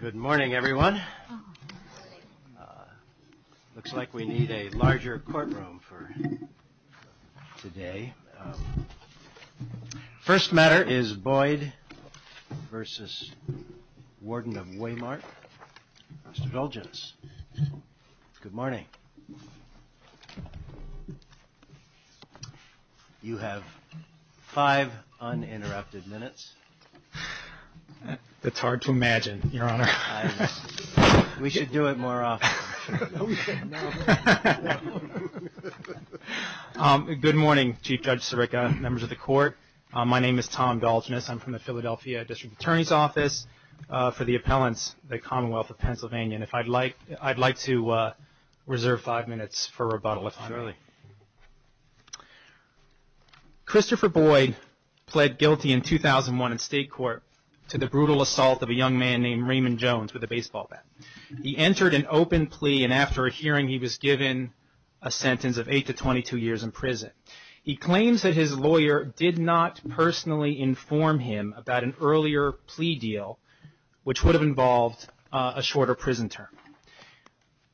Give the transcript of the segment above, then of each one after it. Good morning, everyone. Looks like we need a larger courtroom for today. First matter is Boyd v. Warden of Weymouth. Mr. Dulgence, good morning. You have five uninterrupted minutes. That's hard to imagine, Your Honor. We should do it more often. Good morning, Chief Judge Sirica, members of the Court. My name is Tom Dulgence. I'm from the Philadelphia District Attorney's Office for the Appellants, the Commonwealth of Pennsylvania. I'd like to reserve five minutes for rebuttal, if I may. Christopher Boyd pled guilty in 2001 in state court to the brutal assault of a young man named Raymond Jones with a baseball bat. He entered an open plea, and after a hearing, he was given a sentence of eight to 22 years in prison. He claims that his lawyer did not personally inform him about an earlier plea deal, which would have involved a shorter prison term.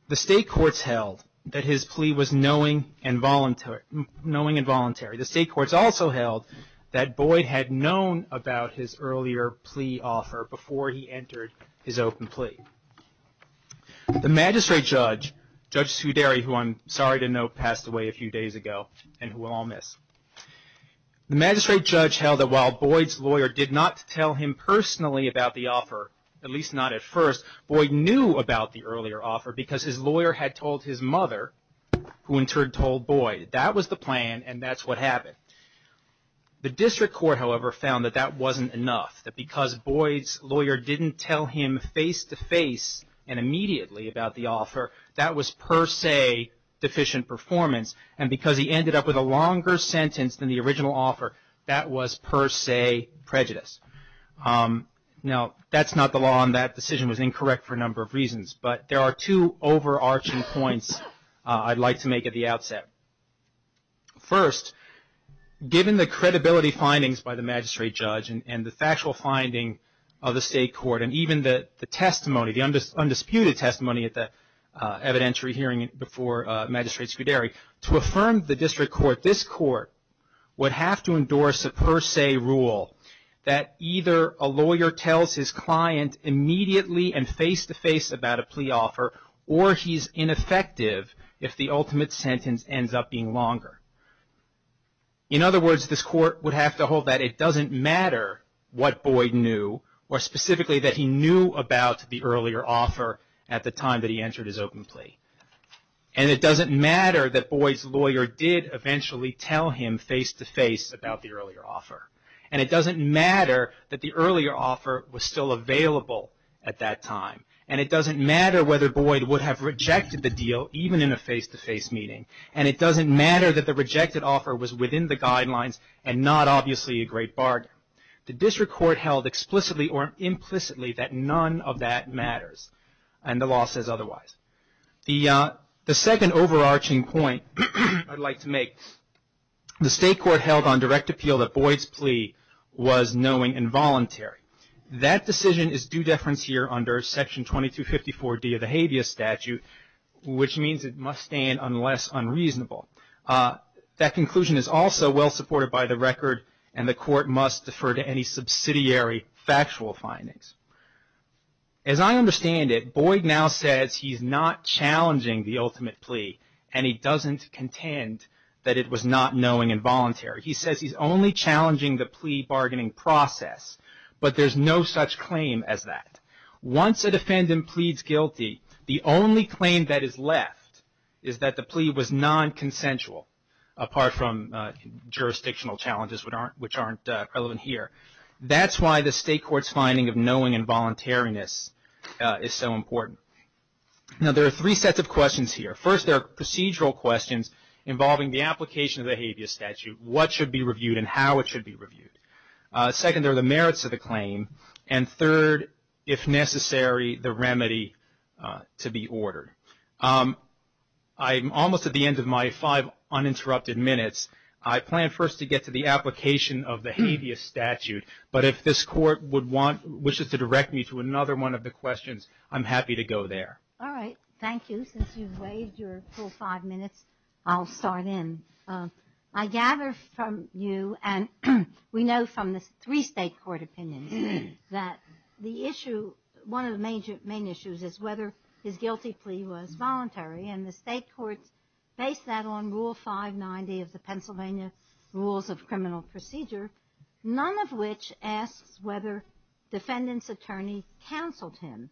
The state courts held that his plea was knowing and voluntary. The state courts also held that Boyd had known about his earlier plea offer before he entered his open plea. The magistrate judge, Judge Suderi, who I'm sorry to know passed away a few days ago, and who we'll all miss, the magistrate judge held that while Boyd's lawyer did not tell him personally about the offer, at least not at first, Boyd knew about the earlier offer because his lawyer had told his mother, who in turn told Boyd. That was the plan, and that's what happened. The district court, however, found that that wasn't enough, that because Boyd's lawyer didn't tell him face-to-face and immediately about the offer, that was per se deficient performance, and because he ended up with a longer sentence than the original offer, that was per se prejudice. Now, that's not the law, and that decision was incorrect for a number of reasons, but there are two overarching points I'd like to make at the outset. First, given the credibility findings by the magistrate judge and the factual finding of the state court, and even the testimony, the undisputed testimony at the evidentiary hearing before Magistrate Suderi, to affirm the district court, this court would have to endorse a per se rule that either a lawyer tells his client immediately and face-to-face about a plea offer, or he's ineffective if the ultimate sentence ends up being longer. In other words, this court would have to hold that it doesn't matter what Boyd knew, or specifically that he knew about the earlier offer at the time that he entered his open plea, and it doesn't matter that Boyd's lawyer did eventually tell him face-to-face about the earlier offer, and it doesn't matter that the earlier offer was still available at that time, and it doesn't matter whether Boyd would have rejected the deal even in a face-to-face meeting, and it doesn't matter that the rejected offer was within the guidelines and not obviously a great bargain. The district court held explicitly or implicitly that none of that matters, and the law says otherwise. The second overarching point I'd like to make, the state court held on direct appeal that Boyd's plea was knowing and voluntary. That decision is due deference here under Section 2254D of the habeas statute, which means it must stand unless unreasonable. That conclusion is also well supported by the record, and the court must defer to any subsidiary factual findings. As I understand it, Boyd now says he's not challenging the ultimate plea, and he doesn't contend that it was not knowing and voluntary. He says he's only challenging the plea bargaining process, but there's no such claim as that. Once a defendant pleads guilty, the only claim that is left is that the plea was non-consensual, apart from jurisdictional challenges which aren't relevant here. That's why the state court's finding of knowing and voluntariness is so important. Now, there are three sets of questions here. First, there are procedural questions involving the application of the habeas statute, what should be reviewed and how it should be reviewed. Second, there are the merits of the claim. And third, if necessary, the remedy to be ordered. I'm almost at the end of my five uninterrupted minutes. I plan first to get to the application of the habeas statute, but if this court wishes to direct me to another one of the questions, I'm happy to go there. All right. Thank you. Since you've waived your full five minutes, I'll start in. I gather from you, and we know from the three state court opinions, and the state courts base that on Rule 590 of the Pennsylvania Rules of Criminal Procedure, none of which asks whether defendant's attorney counseled him.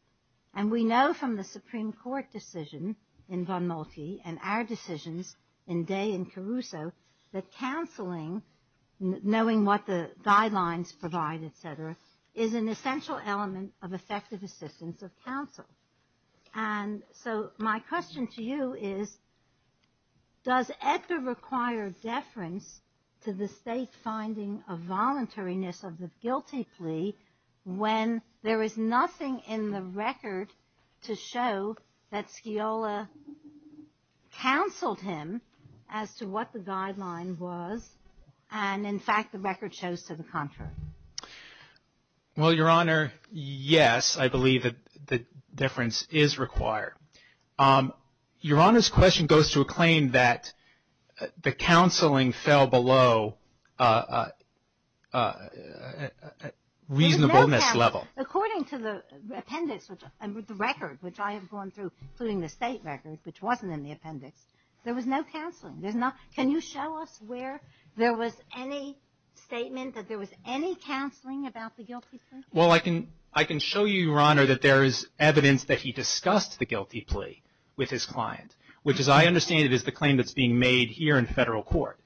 And we know from the Supreme Court decision in Van Moltie and our decisions in Day and Caruso that counseling, knowing what the guidelines provide, et cetera, and so my question to you is, does Edgar require deference to the state finding of voluntariness of the guilty plea when there is nothing in the record to show that Sciola counseled him as to what the guideline was and, in fact, the record shows to the contrary? Well, Your Honor, yes, I believe that deference is required. Your Honor's question goes to a claim that the counseling fell below reasonableness level. According to the appendix, the record, which I have gone through, including the state record, which wasn't in the appendix, there was no counseling. Can you show us where there was any statement that there was any counseling about the guilty plea? Well, I can show you, Your Honor, that there is evidence that he discussed the guilty plea with his client, which, as I understand it, is the claim that's being made here in federal court.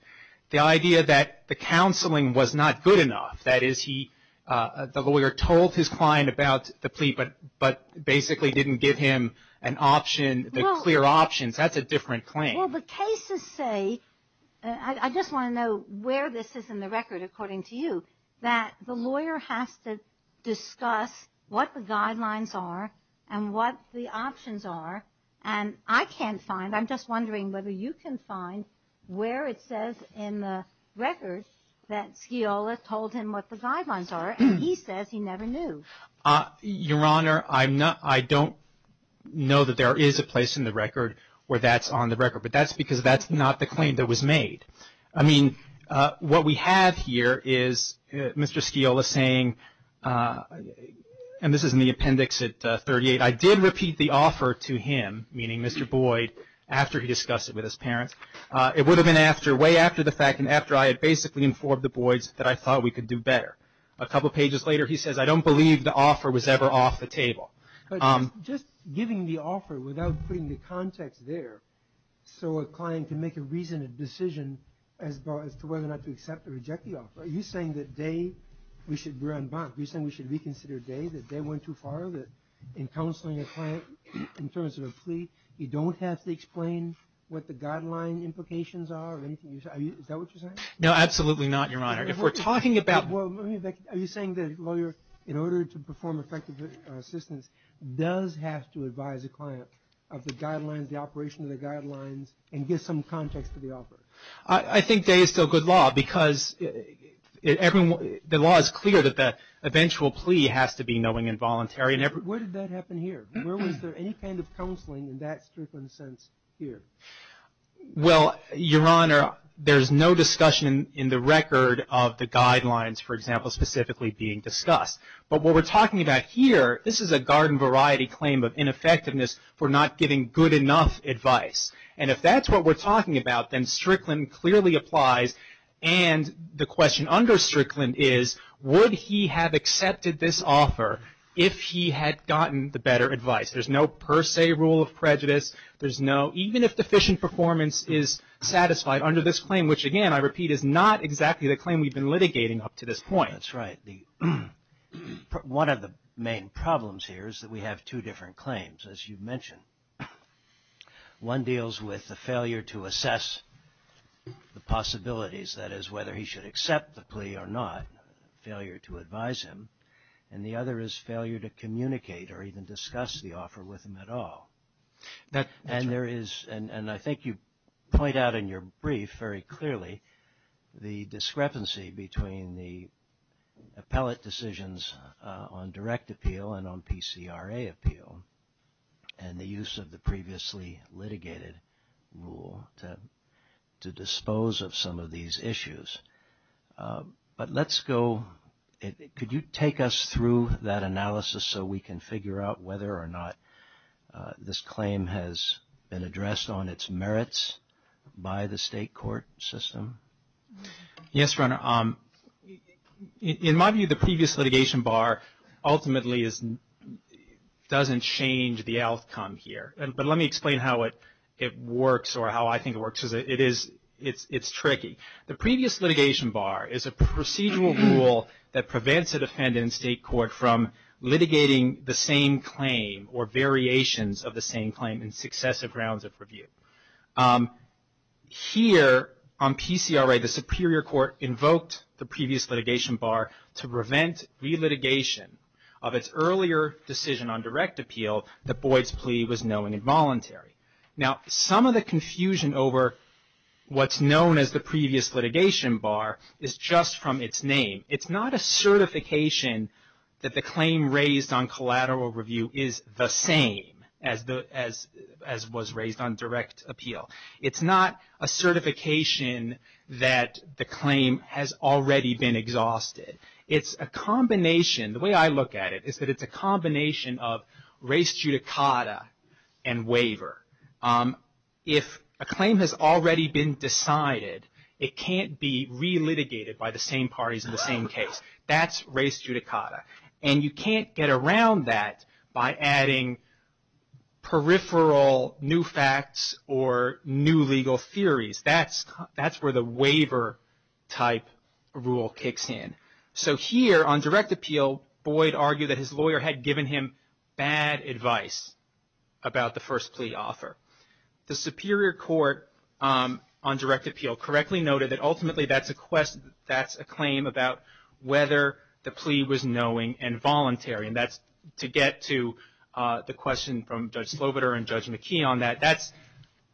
The idea that the counseling was not good enough, that is, the lawyer told his client about the plea but basically didn't give him an option, clear options, that's a different claim. Well, the cases say, I just want to know where this is in the record according to you, that the lawyer has to discuss what the guidelines are and what the options are and I can't find, I'm just wondering whether you can find where it says in the record that Sciola told him what the guidelines are and he says he never knew. Your Honor, I don't know that there is a place in the record where that's on the record, but that's because that's not the claim that was made. I mean, what we have here is Mr. Sciola saying, and this is in the appendix at 38, I did repeat the offer to him, meaning Mr. Boyd, after he discussed it with his parents. It would have been way after the fact and after I had basically informed the Boyds that I thought we could do better. A couple pages later he says, I don't believe the offer was ever off the table. But just giving the offer without putting the context there, so a client can make a reasoned decision as to whether or not to accept or reject the offer, are you saying that they, we're on bond, are you saying we should reconsider they, that they went too far, that in counseling a client in terms of a plea, you don't have to explain what the guideline implications are, is that what you're saying? No, absolutely not, Your Honor. Are you saying that a lawyer, in order to perform effective assistance, does have to advise a client of the guidelines, the operation of the guidelines, and give some context to the offer? I think that is still good law because the law is clear that the eventual plea has to be knowing and voluntary. Where did that happen here? Where was there any kind of counseling in that strict of a sense here? Well, Your Honor, there's no discussion in the record of the guidelines, for example, specifically being discussed. But what we're talking about here, this is a garden variety claim of ineffectiveness for not giving good enough advice. And if that's what we're talking about, then Strickland clearly applies. And the question under Strickland is, would he have accepted this offer if he had gotten the better advice? There's no per se rule of prejudice. There's no, even if deficient performance is satisfied under this claim, which, again, I repeat, is not exactly the claim we've been litigating up to this point. That's right. One of the main problems here is that we have two different claims, as you've mentioned. One deals with the failure to assess the possibilities, that is, whether he should accept the plea or not, failure to advise him. And the other is failure to communicate or even discuss the offer with him at all. And there is, and I think you point out in your brief very clearly, the discrepancy between the appellate decisions on direct appeal and on PCRA appeal and the use of the previously litigated rule to dispose of some of these issues. But let's go, could you take us through that analysis so we can figure out whether or not this claim has been addressed on its merits by the state court system? Yes, Your Honor. In my view, the previous litigation bar ultimately doesn't change the outcome here. But let me explain how it works or how I think it works, because it is, it's tricky. The previous litigation bar is a procedural rule that prevents a defendant in state court from litigating the same claim or variations of the same claim in successive rounds of review. Here on PCRA, the superior court invoked the previous litigation bar to prevent relitigation of its earlier decision on direct appeal that Boyd's plea was known involuntary. Now, some of the confusion over what's known as the previous litigation bar is just from its name. It's not a certification that the claim raised on collateral review is the same as was raised on direct appeal. It's not a certification that the claim has already been exhausted. It's a combination. The way I look at it is that it's a combination of res judicata and waiver. If a claim has already been decided, it can't be relitigated by the same parties in the same case. That's res judicata. And you can't get around that by adding peripheral new facts or new legal theories. That's where the waiver type rule kicks in. So here on direct appeal, Boyd argued that his lawyer had given him bad advice about the first plea offer. The superior court on direct appeal correctly noted that ultimately that's a claim about whether the plea was knowing and voluntary, and that's to get to the question from Judge Slobiter and Judge McKee on that.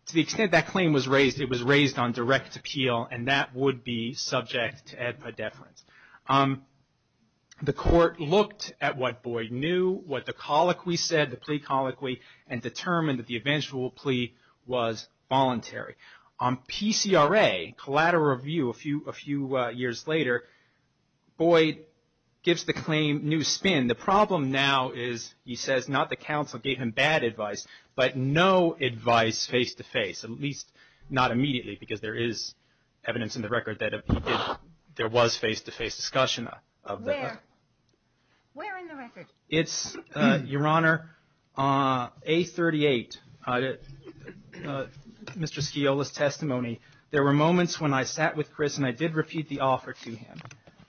To the extent that claim was raised, it was raised on direct appeal, and that would be subject to ad pediferans. The court looked at what Boyd knew, what the colloquy said, the plea colloquy, and determined that the eventual plea was voluntary. On PCRA, collateral review, a few years later, Boyd gives the claim new spin. And the problem now is he says not the counsel gave him bad advice, but no advice face-to-face, at least not immediately because there is evidence in the record that there was face-to-face discussion of that. Where? Where in the record? It's, Your Honor, A38, Mr. Sciola's testimony. There were moments when I sat with Chris and I did repeat the offer to him,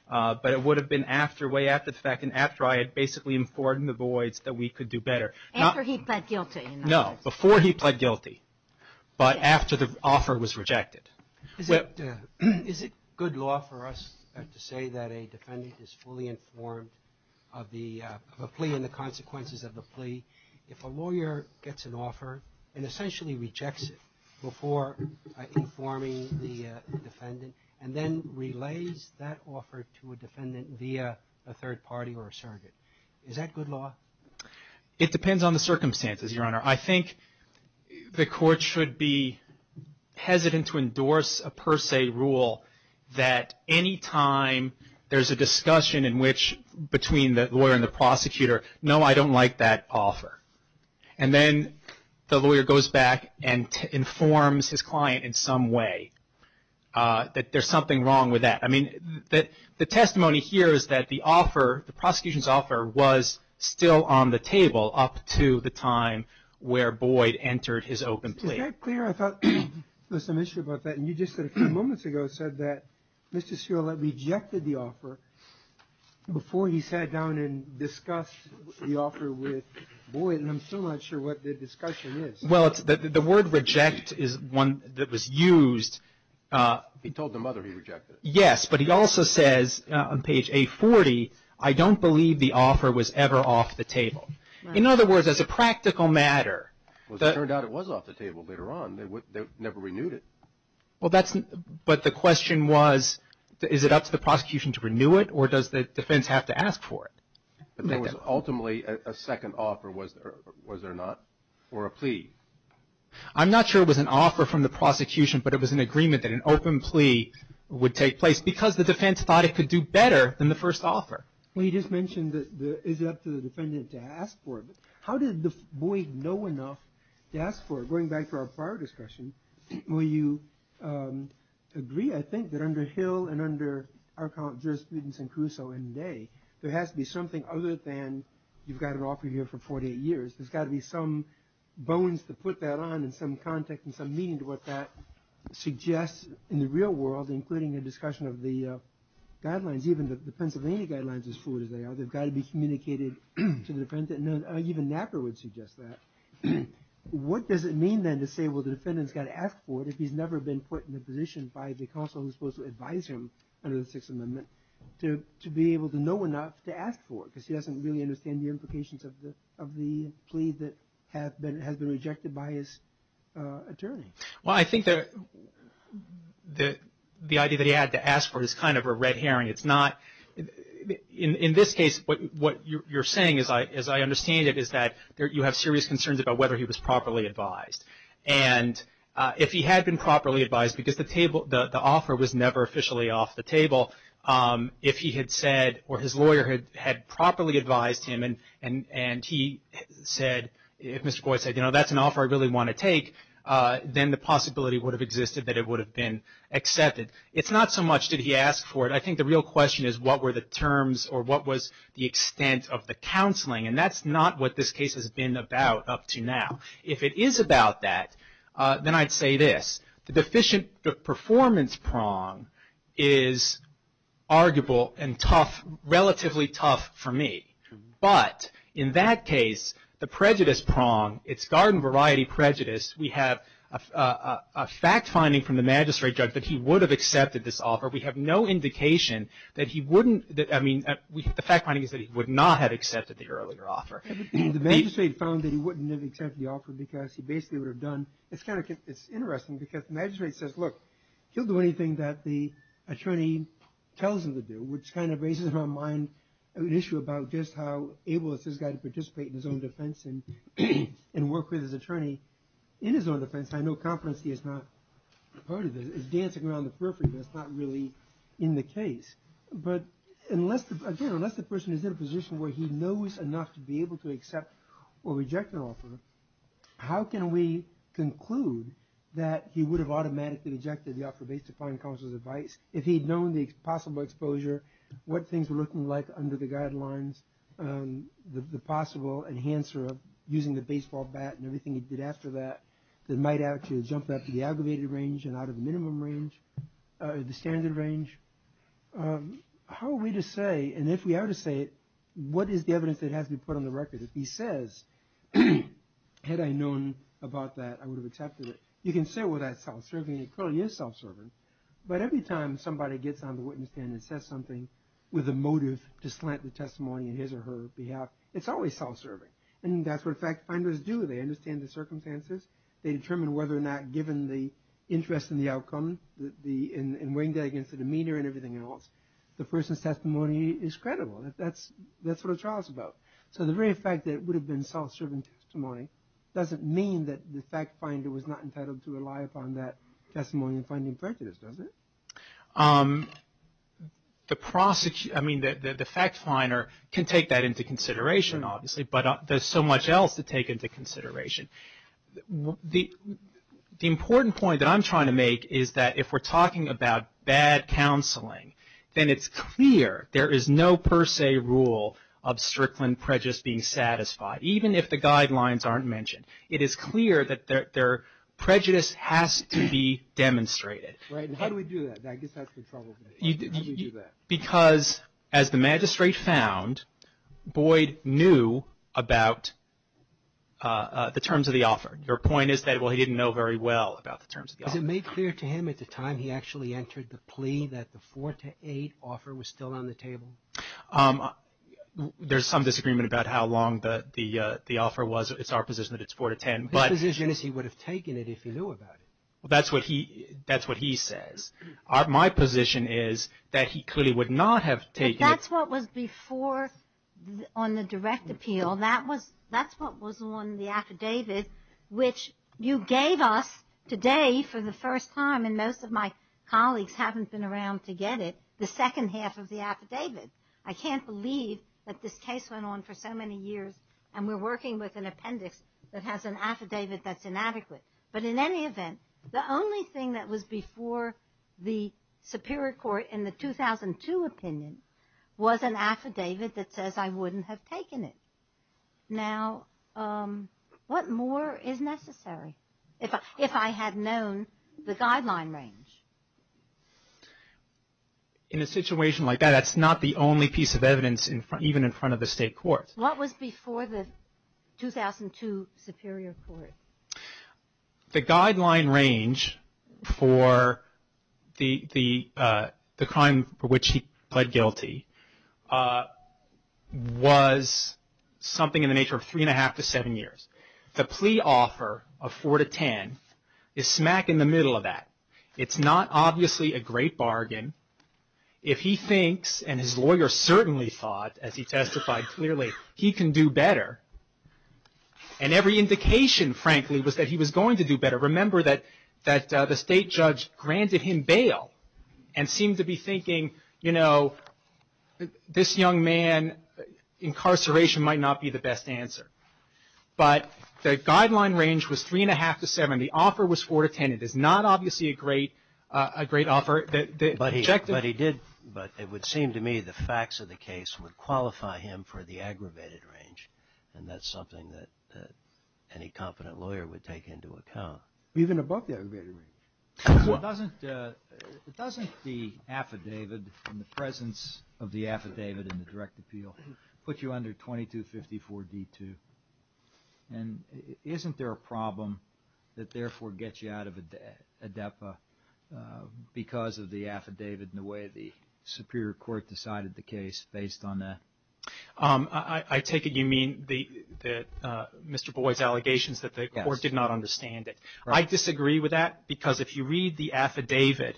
but it would have been after, way after the fact, and after I had basically informed the Boyds that we could do better. After he pled guilty. No, before he pled guilty, but after the offer was rejected. Is it good law for us to say that a defendant is fully informed of a plea and the consequences of the plea if a lawyer gets an offer and essentially rejects it before informing the defendant and then relays that offer to a defendant via a third party or a surrogate? Is that good law? It depends on the circumstances, Your Honor. I think the court should be hesitant to endorse a per se rule that any time there's a discussion in which, between the lawyer and the prosecutor, no, I don't like that offer. And then the lawyer goes back and informs his client in some way that there's something wrong with that. I mean, the testimony here is that the offer, the prosecution's offer, was still on the table up to the time where Boyd entered his open plea. Is that clear? I thought there was some issue about that, and you just a few moments ago said that Mr. Sciola rejected the offer before he sat down and discussed the offer with Boyd, and I'm still not sure what the discussion is. Well, the word reject is one that was used. He told the mother he rejected it. Yes, but he also says on page A40, I don't believe the offer was ever off the table. In other words, as a practical matter. Well, it turned out it was off the table later on. They never renewed it. But the question was, is it up to the prosecution to renew it, or does the defense have to ask for it? But there was ultimately a second offer, was there not, for a plea? I'm not sure it was an offer from the prosecution, but it was an agreement that an open plea would take place because the defense thought it could do better than the first offer. Well, you just mentioned that it's up to the defendant to ask for it. How did Boyd know enough to ask for it? Going back to our prior discussion, will you agree, I think, that under Hill and under our jurisprudence in Caruso and today, there has to be something other than you've got an offer here for 48 years. There's got to be some bones to put that on and some context and some meaning to what that suggests in the real world, including the discussion of the guidelines, even the Pennsylvania guidelines, as fluid as they are. They've got to be communicated to the defendant. Even Napper would suggest that. What does it mean, then, to say, well, the defendant's got to ask for it if he's never been put in a position by the counsel who's supposed to advise him under the Sixth Amendment to be able to know enough to ask for it because he doesn't really understand the implications of the plea that has been rejected by his attorney? Well, I think the idea that he had to ask for it is kind of a red herring. In this case, what you're saying, as I understand it, is that you have serious concerns about whether he was properly advised. And if he had been properly advised, because the offer was never officially off the table, if he had said or his lawyer had properly advised him and he said, if Mr. Boyd said, you know, that's an offer I really want to take, then the possibility would have existed that it would have been accepted. It's not so much did he ask for it. I think the real question is what were the terms or what was the extent of the counseling. And that's not what this case has been about up to now. If it is about that, then I'd say this. The deficient performance prong is arguable and tough, relatively tough for me. But in that case, the prejudice prong, it's garden variety prejudice. We have a fact finding from the magistrate judge that he would have accepted this offer. We have no indication that he wouldn't. I mean, the fact finding is that he would not have accepted the earlier offer. The magistrate found that he wouldn't have accepted the offer because he basically would have done. It's kind of interesting because the magistrate says, look, he'll do anything that the attorney tells him to do, which kind of raises in my mind an issue about just how able is this guy to participate in his own defense and work with his attorney in his own defense. I know competency is not part of this. It's dancing around the periphery, but it's not really in the case. But again, unless the person is in a position where he knows enough to be able to accept or reject an offer, how can we conclude that he would have automatically rejected the offer based upon counsel's advice? If he'd known the possible exposure, what things were looking like under the guidelines, the possible enhancer of using the baseball bat and everything he did after that, that might actually have jumped up to the aggravated range and out of the minimum range, the standard range? How are we to say, and if we are to say it, what is the evidence that has to be put on the record? If he says, had I known about that, I would have accepted it. You can say, well, that's self-serving. It clearly is self-serving. But every time somebody gets on the witness stand and says something with a motive to slant the testimony in his or her behalf, it's always self-serving. And that's what fact finders do. They understand the circumstances. They determine whether or not, given the interest in the outcome, in weighing that against the demeanor and everything else, the person's testimony is credible. That's what a trial is about. So the very fact that it would have been self-serving testimony doesn't mean that the fact finder was not entitled to rely upon that testimony in finding prejudice, does it? The fact finder can take that into consideration, obviously, but there's so much else to take into consideration. The important point that I'm trying to make is that if we're talking about bad counseling, then it's clear there is no per se rule of Strickland prejudice being satisfied, even if the guidelines aren't mentioned. It is clear that their prejudice has to be demonstrated. Right. And how do we do that? I guess that's the trouble with it. How do we do that? Because as the magistrate found, Boyd knew about the terms of the offer. Your point is that, well, he didn't know very well about the terms of the offer. Was it made clear to him at the time he actually entered the plea that the 4 to 8 offer was still on the table? There's some disagreement about how long the offer was. It's our position that it's 4 to 10. His position is he would have taken it if he knew about it. That's what he says. My position is that he clearly would not have taken it. But that's what was before on the direct appeal. That's what was on the affidavit, which you gave us today for the first time, and most of my colleagues haven't been around to get it, the second half of the affidavit. I can't believe that this case went on for so many years, and we're working with an appendix that has an affidavit that's inadequate. But in any event, the only thing that was before the Superior Court in the 2002 opinion was an affidavit that says I wouldn't have taken it. Now, what more is necessary if I had known the guideline range? In a situation like that, that's not the only piece of evidence even in front of the State Court. What was before the 2002 Superior Court? The guideline range for the crime for which he pled guilty was something in the nature of three and a half to seven years. The plea offer of 4 to 10 is smack in the middle of that. It's not obviously a great bargain. If he thinks, and his lawyer certainly thought, as he testified clearly, he can do better, and every indication, frankly, was that he was going to do better. Remember that the state judge granted him bail and seemed to be thinking, you know, this young man, incarceration might not be the best answer. But the guideline range was three and a half to seven. The offer was 4 to 10. It is not obviously a great offer. But it would seem to me the facts of the case would qualify him for the aggravated range, and that's something that any competent lawyer would take into account. Even above the aggravated range. Doesn't the affidavit and the presence of the affidavit in the direct appeal put you under 2254 D2? And isn't there a problem that therefore gets you out of a DEPA because of the affidavit and the way the superior court decided the case based on that? I take it you mean Mr. Boyd's allegations that the court did not understand it. I disagree with that because if you read the affidavit,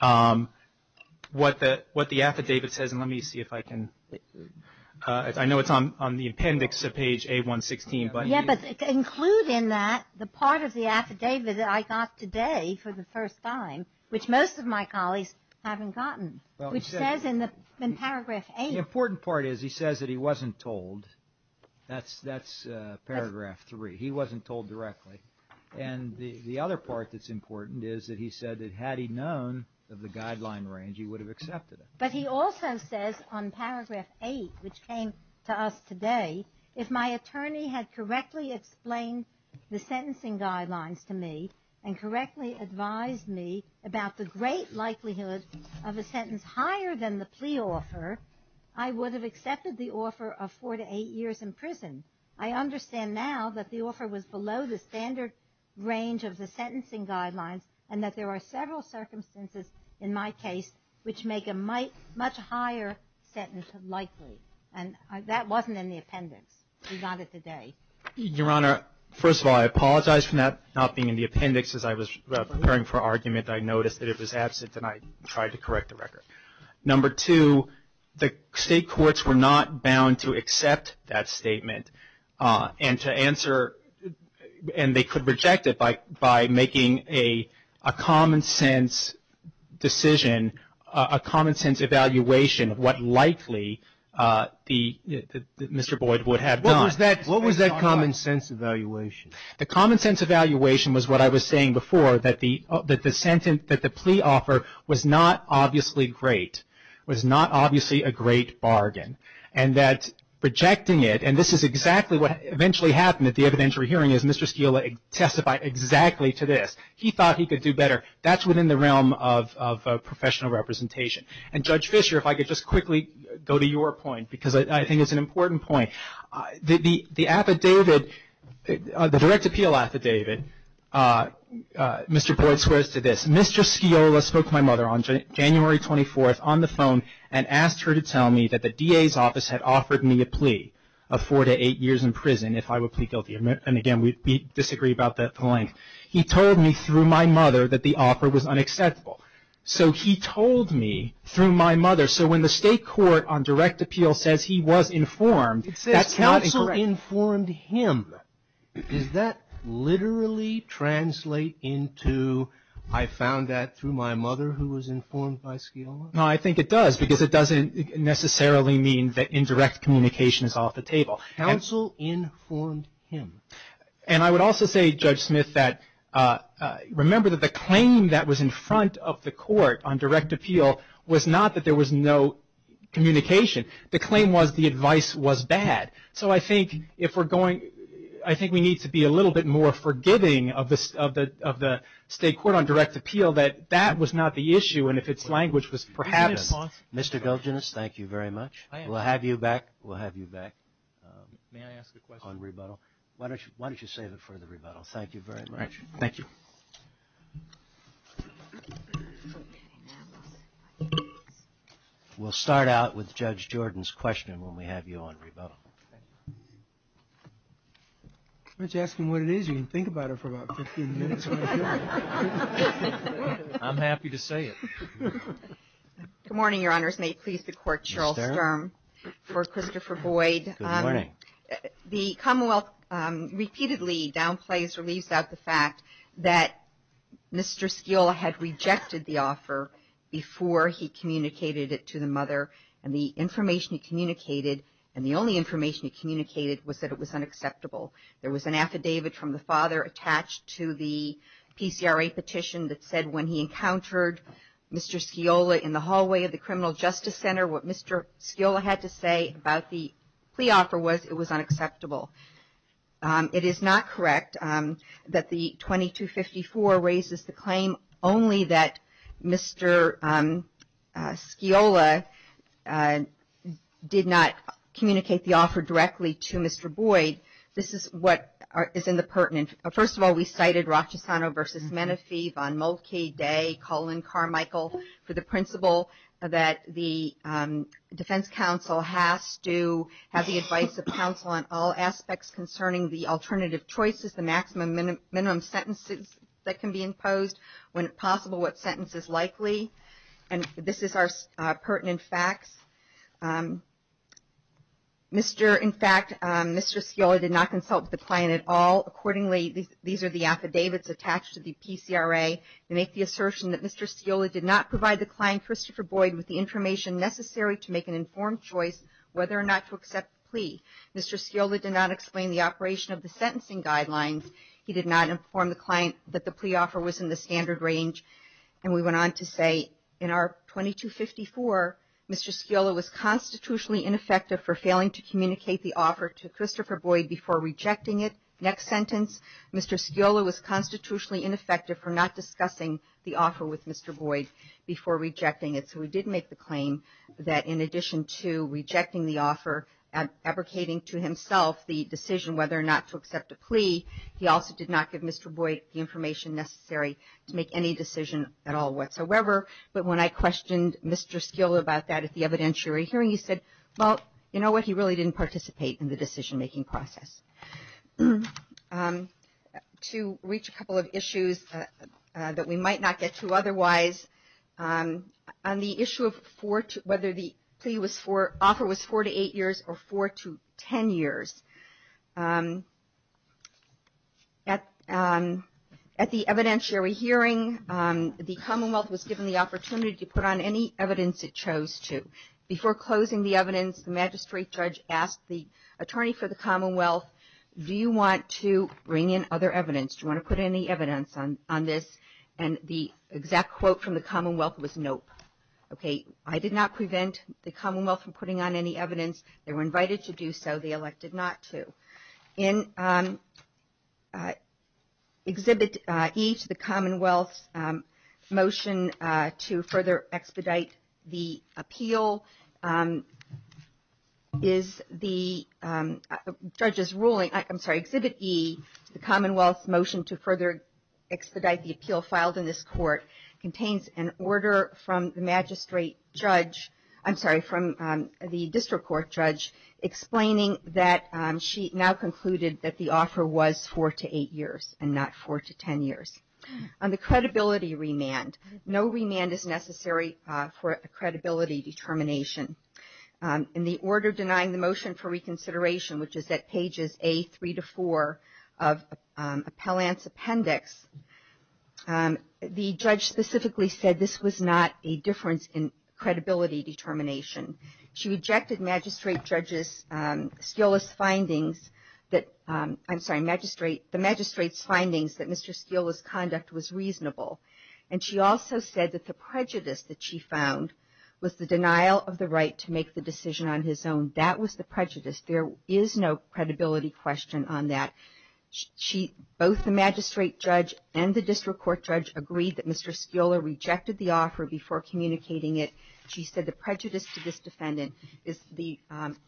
what the affidavit says, and let me see if I can, I know it's on the appendix of page A116. Yeah, but include in that the part of the affidavit that I got today for the first time, which most of my colleagues haven't gotten, which says in Paragraph 8. The important part is he says that he wasn't told. That's Paragraph 3. He wasn't told directly. And the other part that's important is that he said that had he known of the guideline range, he would have accepted it. But he also says on Paragraph 8, which came to us today, if my attorney had correctly explained the sentencing guidelines to me and correctly advised me about the great likelihood of a sentence higher than the plea offer, I would have accepted the offer of four to eight years in prison. I understand now that the offer was below the standard range of the sentencing guidelines and that there are several circumstances in my case which make a much higher sentence likely. And that wasn't in the appendix. We got it today. Your Honor, first of all, I apologize for that not being in the appendix. As I was preparing for argument, I noticed that it was absent, and I tried to correct the record. Number two, the State courts were not bound to accept that statement and to answer and they could reject it by making a common sense decision, a common sense evaluation of what likely Mr. Boyd would have done. What was that common sense evaluation? The common sense evaluation was what I was saying before, that the sentence, that the plea offer was not obviously great, was not obviously a great bargain. And that rejecting it, and this is exactly what eventually happened at the evidentiary hearing, is Mr. Sciola testified exactly to this. He thought he could do better. That's within the realm of professional representation. And Judge Fischer, if I could just quickly go to your point, because I think it's an important point. The affidavit, the direct appeal affidavit, Mr. Boyd swears to this. Mr. Sciola spoke to my mother on January 24th on the phone and asked her to tell me that the DA's office had offered me a plea of four to eight years in prison if I would plead guilty. And again, we disagree about the length. He told me through my mother that the offer was unacceptable. So he told me through my mother. So when the State court on direct appeal says he was informed, that counsel informed him. Does that literally translate into I found that through my mother who was informed by Sciola? No, I think it does, because it doesn't necessarily mean that indirect communication is off the table. Counsel informed him. And I would also say, Judge Smith, that remember that the claim that was in front of the court on direct appeal was not that there was no communication. The claim was the advice was bad. So I think if we're going, I think we need to be a little bit more forgiving of the State court on direct appeal that that was not the issue. And if its language was perhaps. Mr. Golginas, thank you very much. We'll have you back. We'll have you back on rebuttal. Why don't you save it for the rebuttal? Thank you very much. Thank you. We'll start out with Judge Jordan's question when we have you on rebuttal. Why don't you ask him what it is? You can think about it for about 15 minutes. I'm happy to say it. Good morning, Your Honors. May it please the Court. Cheryl Sturm for Christopher Boyd. Good morning. The Commonwealth repeatedly downplays or leaves out the fact that Mr. Sciola had rejected the offer before he communicated it to the mother. And the information he communicated, and the only information he communicated, was that it was unacceptable. There was an affidavit from the father attached to the PCRA petition that said when he encountered Mr. Sciola in the hallway of the Criminal Justice Center, what Mr. Sciola had to say about the plea offer was it was unacceptable. It is not correct that the 2254 raises the claim only that Mr. Sciola did not communicate the offer directly to Mr. Boyd. This is what is in the pertinent. First of all, we cited Rochesano v. Menefee, Von Moltke, Day, Cullen, Carmichael, for the principle that the Defense Council has to have the advice of counsel on all aspects concerning the alternative choices, the maximum and minimum sentences that can be imposed, when possible, what sentence is likely. And this is our pertinent facts. In fact, Mr. Sciola did not consult with the client at all. Accordingly, these are the affidavits attached to the PCRA. They make the assertion that Mr. Sciola did not provide the client, Christopher Boyd, with the information necessary to make an informed choice whether or not to accept the plea. Mr. Sciola did not explain the operation of the sentencing guidelines. He did not inform the client that the plea offer was in the standard range. And we went on to say, in our 2254, Mr. Sciola was constitutionally ineffective for failing to communicate the offer to Christopher Boyd before rejecting it. Next sentence, Mr. Sciola was constitutionally ineffective for not discussing the offer with Mr. Boyd before rejecting it. So we did make the claim that in addition to rejecting the offer, abrogating to himself the decision whether or not to accept the plea, he also did not give Mr. Boyd the information necessary to make any decision at all whatsoever. But when I questioned Mr. Sciola about that at the evidentiary hearing, he said, well, you know what, he really didn't participate in the decision-making process. To reach a couple of issues that we might not get to otherwise, on the issue of whether the offer was four to eight years or four to ten years, at the evidentiary hearing, the Commonwealth was given the opportunity to put on any evidence it chose to. Before closing the evidence, the magistrate judge asked the attorney for the Commonwealth, do you want to bring in other evidence, do you want to put any evidence on this? And the exact quote from the Commonwealth was nope. Okay, I did not prevent the Commonwealth from putting on any evidence. They were invited to do so. They elected not to. In Exhibit E to the Commonwealth's motion to further expedite the appeal is the judge's ruling. I'm sorry, Exhibit E to the Commonwealth's motion to further expedite the appeal filed in this court contains an order from the magistrate judge, I'm sorry, from the district court judge, explaining that she now concluded that the offer was four to eight years and not four to ten years. On the credibility remand, no remand is necessary for a credibility determination. In the order denying the motion for reconsideration, which is at pages A3 to 4 of Appellant's appendix, the judge specifically said this was not a difference in credibility determination. She rejected the magistrate's findings that Mr. Steele's conduct was reasonable. And she also said that the prejudice that she found was the denial of the right to make the decision on his own. That was the prejudice. There is no credibility question on that. Both the magistrate judge and the district court judge agreed that Mr. Steele rejected the offer before communicating it. She said the prejudice to this defendant is the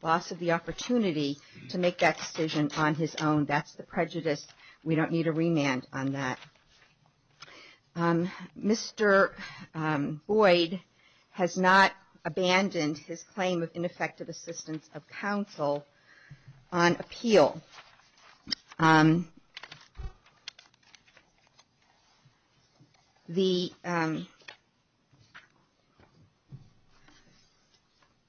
loss of the opportunity to make that decision on his own. That's the prejudice. We don't need a remand on that. Mr. Boyd has not abandoned his claim of ineffective assistance of counsel on appeal. The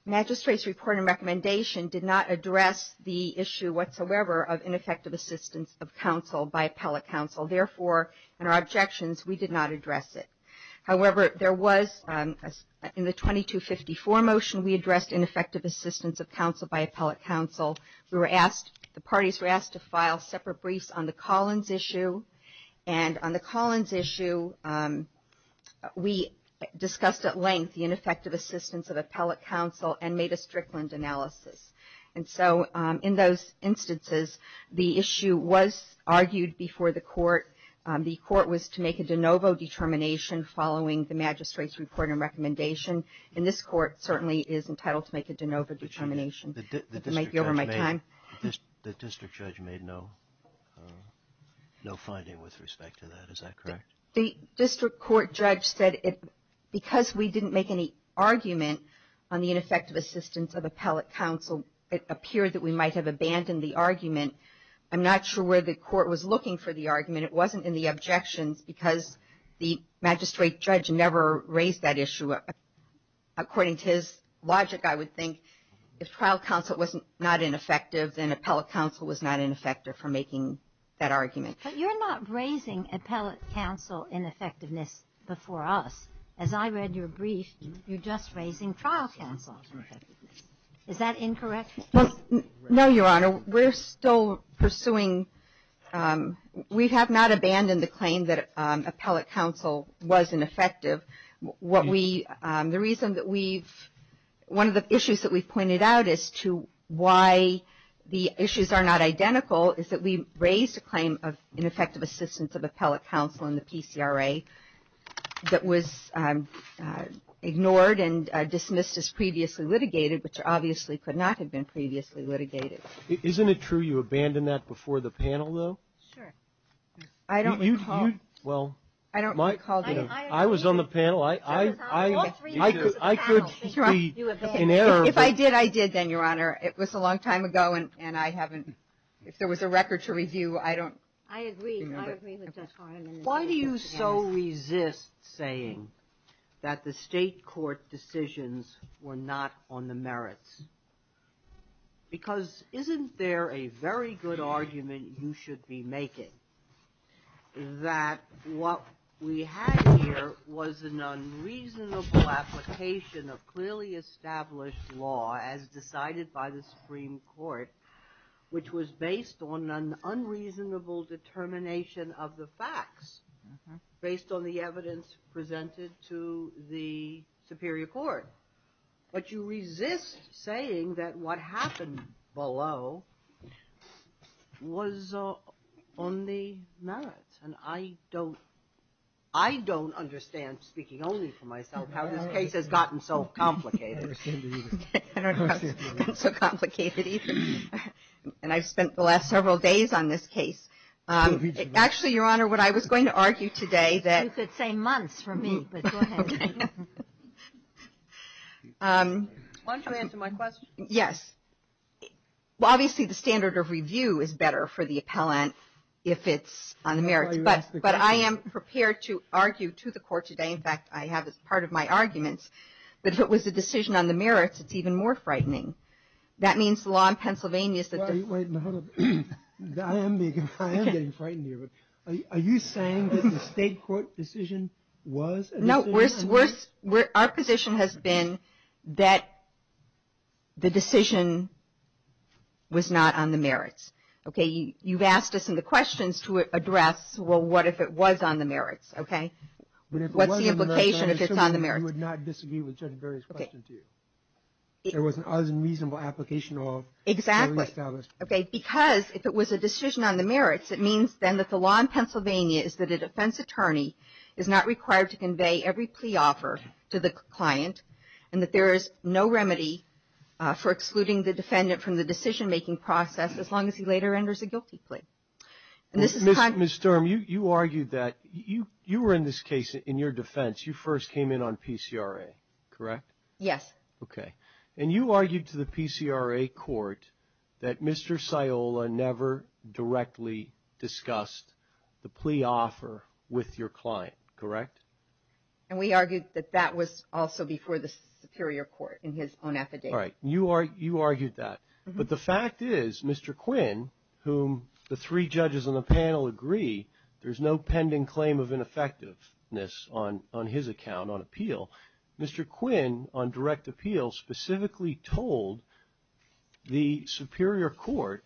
magistrate's report and recommendation did not address the issue whatsoever of ineffective assistance of counsel by appellate counsel. Therefore, in our objections, we did not address it. However, there was, in the 2254 motion, we addressed ineffective assistance of counsel by appellate counsel. The parties were asked to file separate briefs on the Collins issue. And on the Collins issue, we discussed at length the ineffective assistance of appellate counsel and made a Strickland analysis. And so in those instances, the issue was argued before the court. The court was to make a de novo determination following the magistrate's report and recommendation. And this court certainly is entitled to make a de novo determination. It might be over my time. The district judge made no finding with respect to that. Is that correct? The district court judge said because we didn't make any argument on the ineffective assistance of appellate counsel, it appeared that we might have abandoned the argument. I'm not sure where the court was looking for the argument. It wasn't in the objections because the magistrate judge never raised that issue. According to his logic, I would think if trial counsel was not ineffective, then appellate counsel was not ineffective for making that argument. But you're not raising appellate counsel ineffectiveness before us. As I read your brief, you're just raising trial counsel's ineffectiveness. Is that incorrect? No, Your Honor. We're still pursuing. We have not abandoned the claim that appellate counsel was ineffective. What we the reason that we've one of the issues that we've pointed out as to why the issues are not identical is that we raised a claim of ineffective assistance of appellate counsel in the PCRA that was ignored and dismissed as previously litigated, which obviously could not have been previously litigated. Isn't it true you abandoned that before the panel, though? Sure. I don't recall. Well, I was on the panel. I could be in error. If I did, I did then, Your Honor. It was a long time ago, and I haven't, if there was a record to review, I don't. I agree. I agree with Judge Harlan. Why do you so resist saying that the state court decisions were not on the merits? Because isn't there a very good argument you should be making that what we had here was an unreasonable application of clearly established law as decided by the Supreme Court, which was based on an unreasonable determination of the facts, based on the evidence presented to the superior court. But you resist saying that what happened below was on the merits, and I don't understand, speaking only for myself, how this case has gotten so complicated. I don't know how it's gotten so complicated even. And I've spent the last several days on this case. Actually, Your Honor, what I was going to argue today that. You could say months for me, but go ahead. Okay. Why don't you answer my question? Yes. Well, obviously the standard of review is better for the appellant if it's on the merits. But I am prepared to argue to the court today. In fact, I have as part of my arguments that if it was a decision on the merits, it's even more frightening. That means the law in Pennsylvania is that. Wait a minute. I am getting frightened here. Are you saying that the state court decision was a decision? No. Our position has been that the decision was not on the merits. Okay. You've asked us in the questions to address, well, what if it was on the merits? Okay. What's the implication if it's on the merits? We would not disagree with Judge Barry's question to you. It was an unreasonable application of. Exactly. Okay. Because if it was a decision on the merits, it means then that the law in Pennsylvania is that a defense attorney is not required to convey every plea offer to the client and that there is no remedy for excluding the defendant from the decision-making process as long as he later enters a guilty plea. Ms. Sturm, you argued that you were in this case in your defense. You first came in on PCRA, correct? Yes. Okay. And you argued to the PCRA court that Mr. Sciola never directly discussed the plea offer with your client, correct? And we argued that that was also before the superior court in his own affidavit. All right. You argued that. But the fact is, Mr. Quinn, whom the three judges on the panel agree, there's no pending claim of ineffectiveness on his account on appeal. Mr. Quinn, on direct appeal, specifically told the superior court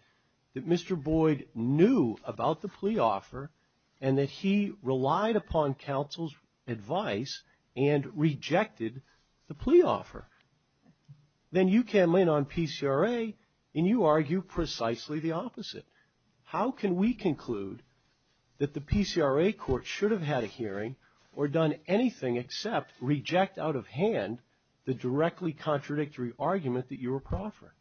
that Mr. Boyd knew about the plea offer and that he relied upon counsel's advice and rejected the plea offer. Then you came in on PCRA and you argued precisely the opposite. How can we conclude that the PCRA court should have had a hearing or done anything except reject out of hand the directly contradictory argument that you were proffering?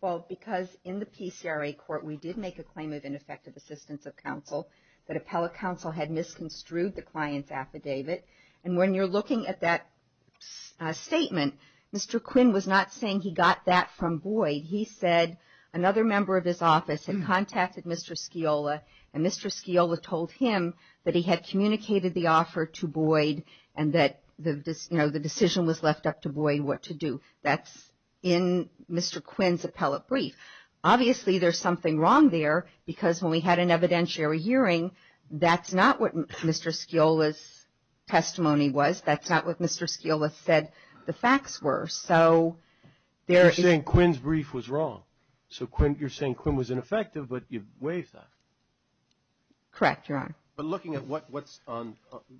Well, because in the PCRA court we did make a claim of ineffective assistance of counsel, that appellate counsel had misconstrued the client's affidavit. And when you're looking at that statement, Mr. Quinn was not saying he got that from Boyd. He said another member of his office had contacted Mr. Sciola and Mr. Sciola told him that he had communicated the offer to Boyd and that the decision was left up to Boyd what to do. That's in Mr. Quinn's appellate brief. Obviously, there's something wrong there because when we had an evidentiary hearing, that's not what Mr. Sciola's testimony was. That's not what Mr. Sciola said the facts were. So there is — You're saying Quinn's brief was wrong. So you're saying Quinn was ineffective, but you waived that. Correct, Your Honor. But looking at what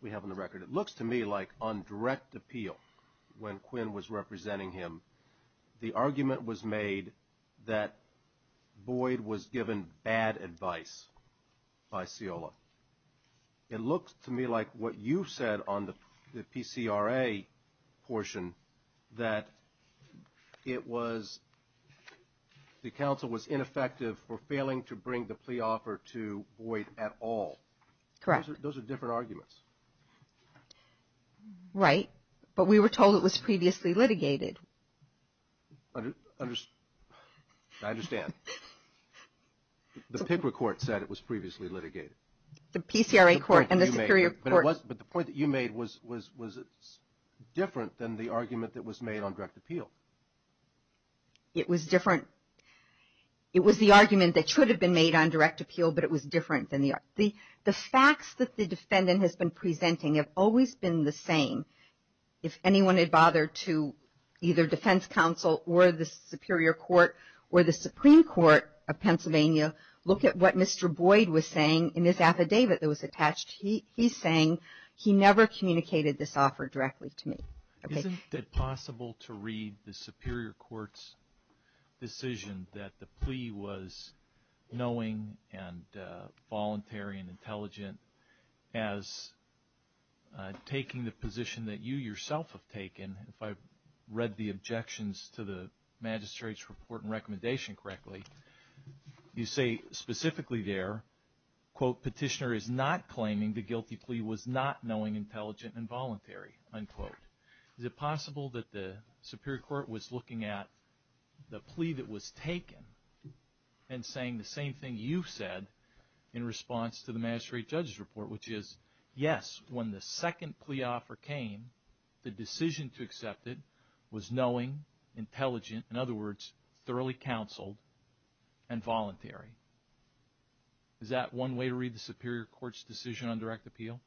we have on the record, it looks to me like on direct appeal, when Quinn was representing him, the argument was made that Boyd was given bad advice by Sciola. It looks to me like what you said on the PCRA portion, that it was the counsel was ineffective for failing to bring the plea offer to Boyd at all. Correct. Those are different arguments. Right. But we were told it was previously litigated. I understand. The paper court said it was previously litigated. The PCRA court and the superior court. But the point that you made was different than the argument that was made on direct appeal. It was different. It was the argument that should have been made on direct appeal, but it was different than the argument. The facts that the defendant has been presenting have always been the same. If anyone had bothered to either defense counsel or the superior court or the Supreme Court of Pennsylvania look at what Mr. Boyd was saying in his affidavit that was attached. He's saying he never communicated this offer directly to me. Isn't it possible to read the superior court's decision that the plea was knowing and voluntary and intelligent as taking the position that you yourself have taken? If I've read the objections to the magistrate's report and recommendation correctly, you say specifically there, quote, Is it possible that the superior court was looking at the plea that was taken and saying the same thing you said in response to the magistrate judge's report, which is, yes, when the second plea offer came, the decision to accept it was knowing, intelligent, in other words, thoroughly counseled and voluntary. Is that one way to read the superior court's decision on direct appeal?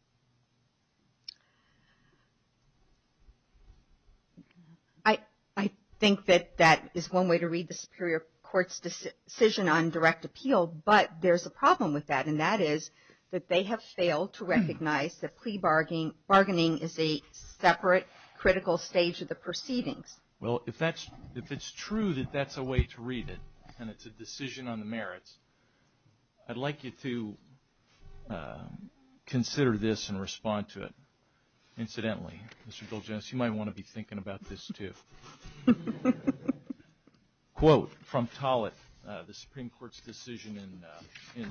I think that that is one way to read the superior court's decision on direct appeal, but there's a problem with that, and that is that they have failed to recognize that plea bargaining is a separate critical stage of the proceedings. Well, if it's true that that's a way to read it and it's a decision on the merits, I'd like you to consider this and respond to it. Incidentally, Mr. Bilges, you might want to be thinking about this, too. Quote from Tollett, the Supreme Court's decision in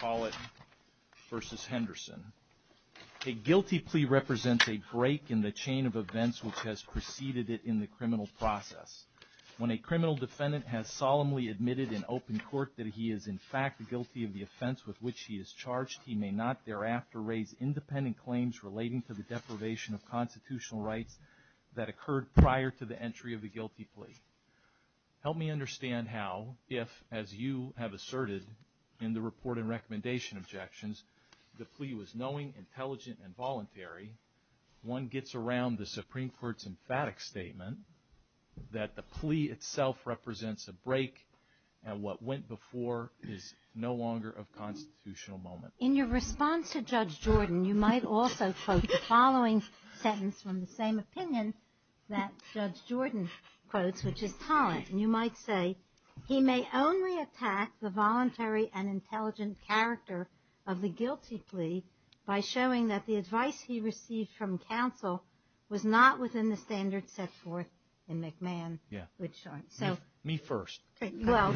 Tollett v. Henderson, A guilty plea represents a break in the chain of events which has preceded it in the criminal process. When a criminal defendant has solemnly admitted in open court that he is in fact guilty of the offense with which he is charged, he may not thereafter raise independent claims relating to the deprivation of constitutional rights that occurred prior to the entry of a guilty plea. Help me understand how, if, as you have asserted in the report and recommendation objections, the plea was knowing, intelligent, and voluntary, one gets around the Supreme Court's emphatic statement that the plea itself represents a break and what went before is no longer of constitutional moment. In your response to Judge Jordan, you might also quote the following sentence from the same opinion that Judge Jordan quotes, which is Tollett, and you might say, he may only attack the voluntary and intelligent character of the guilty plea by showing that the advice he received from counsel was not within the standards set forth in McMahon. Yeah. So. Me first. Okay. Well.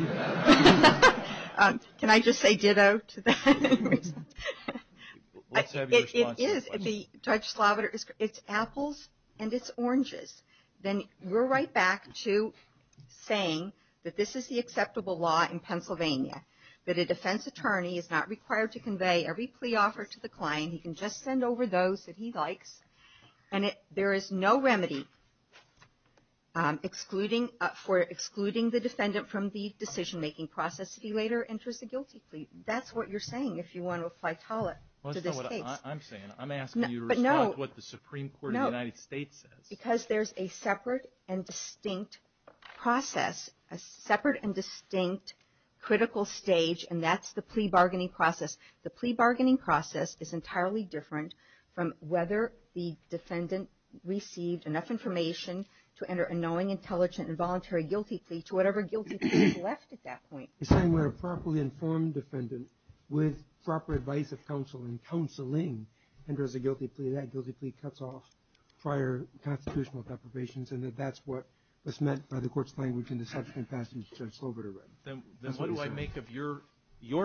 Can I just say ditto to that? Let's have your response to that question. It is. It's apples and it's oranges. Then we're right back to saying that this is the acceptable law in Pennsylvania, that a defense attorney is not required to convey every plea offer to the client. He can just send over those that he likes. And there is no remedy for excluding the defendant from the decision-making process if he later enters a guilty plea. That's what you're saying if you want to apply Tollett to this case. Well, that's not what I'm saying. I'm asking you to respond to what the Supreme Court of the United States says. Because there's a separate and distinct process, a separate and distinct critical stage, and that's the plea bargaining process. The plea bargaining process is entirely different from whether the defendant received enough information to enter a knowing, intelligent, and voluntary guilty plea to whatever guilty plea is left at that point. You're saying where a properly informed defendant with proper advice of counsel and counseling enters a guilty plea, that guilty plea cuts off prior constitutional deprivations, and that that's what was meant by the court's language in the subsequent passage Judge Sloboda read. Then what do I make of your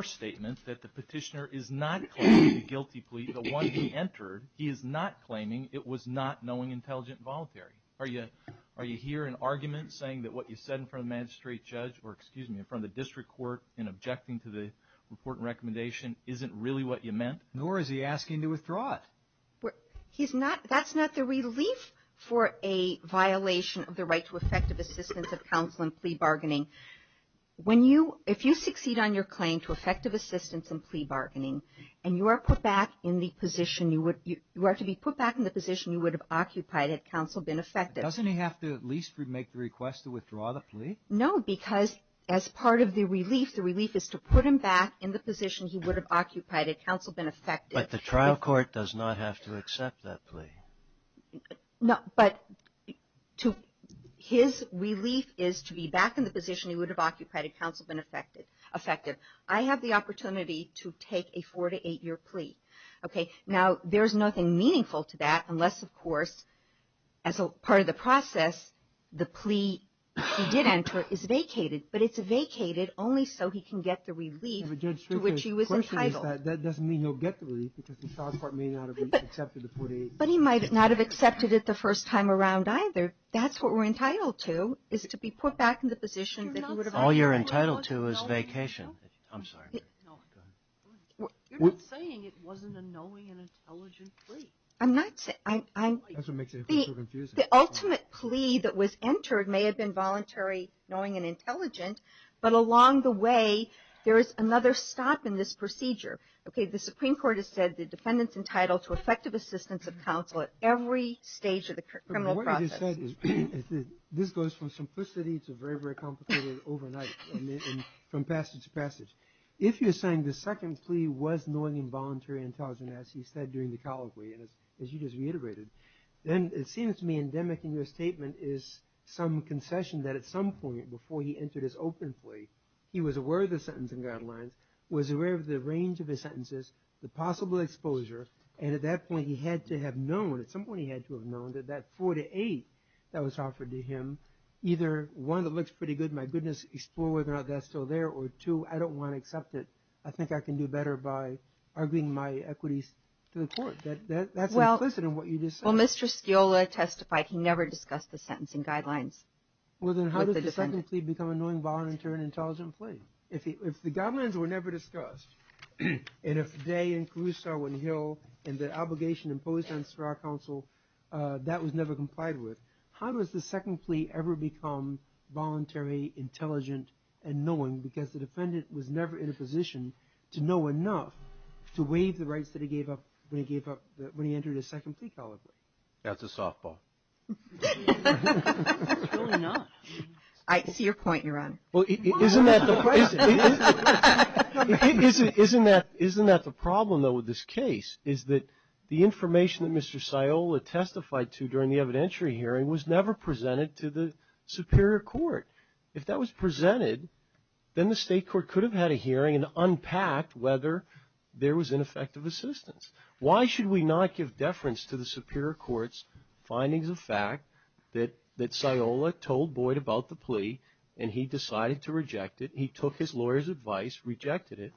statement that the petitioner is not claiming the guilty plea, the one he entered, he is not claiming it was not knowing, intelligent, and voluntary? Are you here in argument saying that what you said in front of the magistrate judge or, excuse me, in front of the district court in objecting to the report and recommendation isn't really what you meant? Nor is he asking to withdraw it. That's not the relief for a violation of the right to effective assistance of counsel in plea bargaining. If you succeed on your claim to effective assistance in plea bargaining and you are to be put back in the position you would have occupied had counsel been effective. Doesn't he have to at least make the request to withdraw the plea? No, because as part of the relief, the relief is to put him back in the position he would have occupied had counsel been effective. But the trial court does not have to accept that plea. No, but his relief is to be back in the position he would have occupied had counsel been effective. I have the opportunity to take a four- to eight-year plea. Okay. Now, there's nothing meaningful to that unless, of course, as a part of the process, the plea he did enter is vacated. But it's vacated only so he can get the relief to which he was entitled. That doesn't mean he'll get the relief because the trial court may not have accepted the 48. But he might not have accepted it the first time around either. That's what we're entitled to, is to be put back in the position that he would have occupied. All you're entitled to is vacation. I'm sorry. No. Go ahead. You're not saying it wasn't a knowing and intelligent plea. I'm not. That's what makes it so confusing. The ultimate plea that was entered may have been voluntary knowing and intelligent. But along the way, there is another stop in this procedure. Okay. The Supreme Court has said the defendant's entitled to effective assistance of counsel at every stage of the criminal process. What I just said is this goes from simplicity to very, very complicated overnight, from passage to passage. If you're saying the second plea was knowing and voluntary and intelligent, as he said during the colloquy, and as you just reiterated, then it seems to me endemic in your statement is some concession that at some point, before he entered his open plea, he was aware of the sentencing guidelines, was aware of the range of his sentences, the possible exposure, and at that point he had to have known, at some point he had to have known, that that 48 that was offered to him, either one, it looks pretty good, my goodness, explore whether or not that's still there, or two, I don't want to accept it. I think I can do better by arguing my equities to the court. That's implicit in what you just said. Well, Mr. Sciola testified he never discussed the sentencing guidelines with the defendant. Well, then how does the second plea become a knowing, voluntary, and intelligent plea? If the guidelines were never discussed, and if they, and Caruso, and Hill, and the obligation imposed on Seurat Counsel, that was never complied with, how does the second plea ever become voluntary, intelligent, and knowing? Because the defendant was never in a position to know enough to waive the rights that he gave up when he gave up, when he entered his second plea calibration. That's a softball. It's really not. I see your point, Your Honor. Well, isn't that the, isn't that the problem, though, with this case, is that the information that Mr. Sciola testified to during the evidentiary hearing was never presented to the superior court. If that was presented, then the state court could have had a hearing and unpacked whether there was ineffective assistance. Why should we not give deference to the superior court's findings of fact that Sciola told Boyd about the plea, and he decided to reject it? He took his lawyer's advice, rejected it.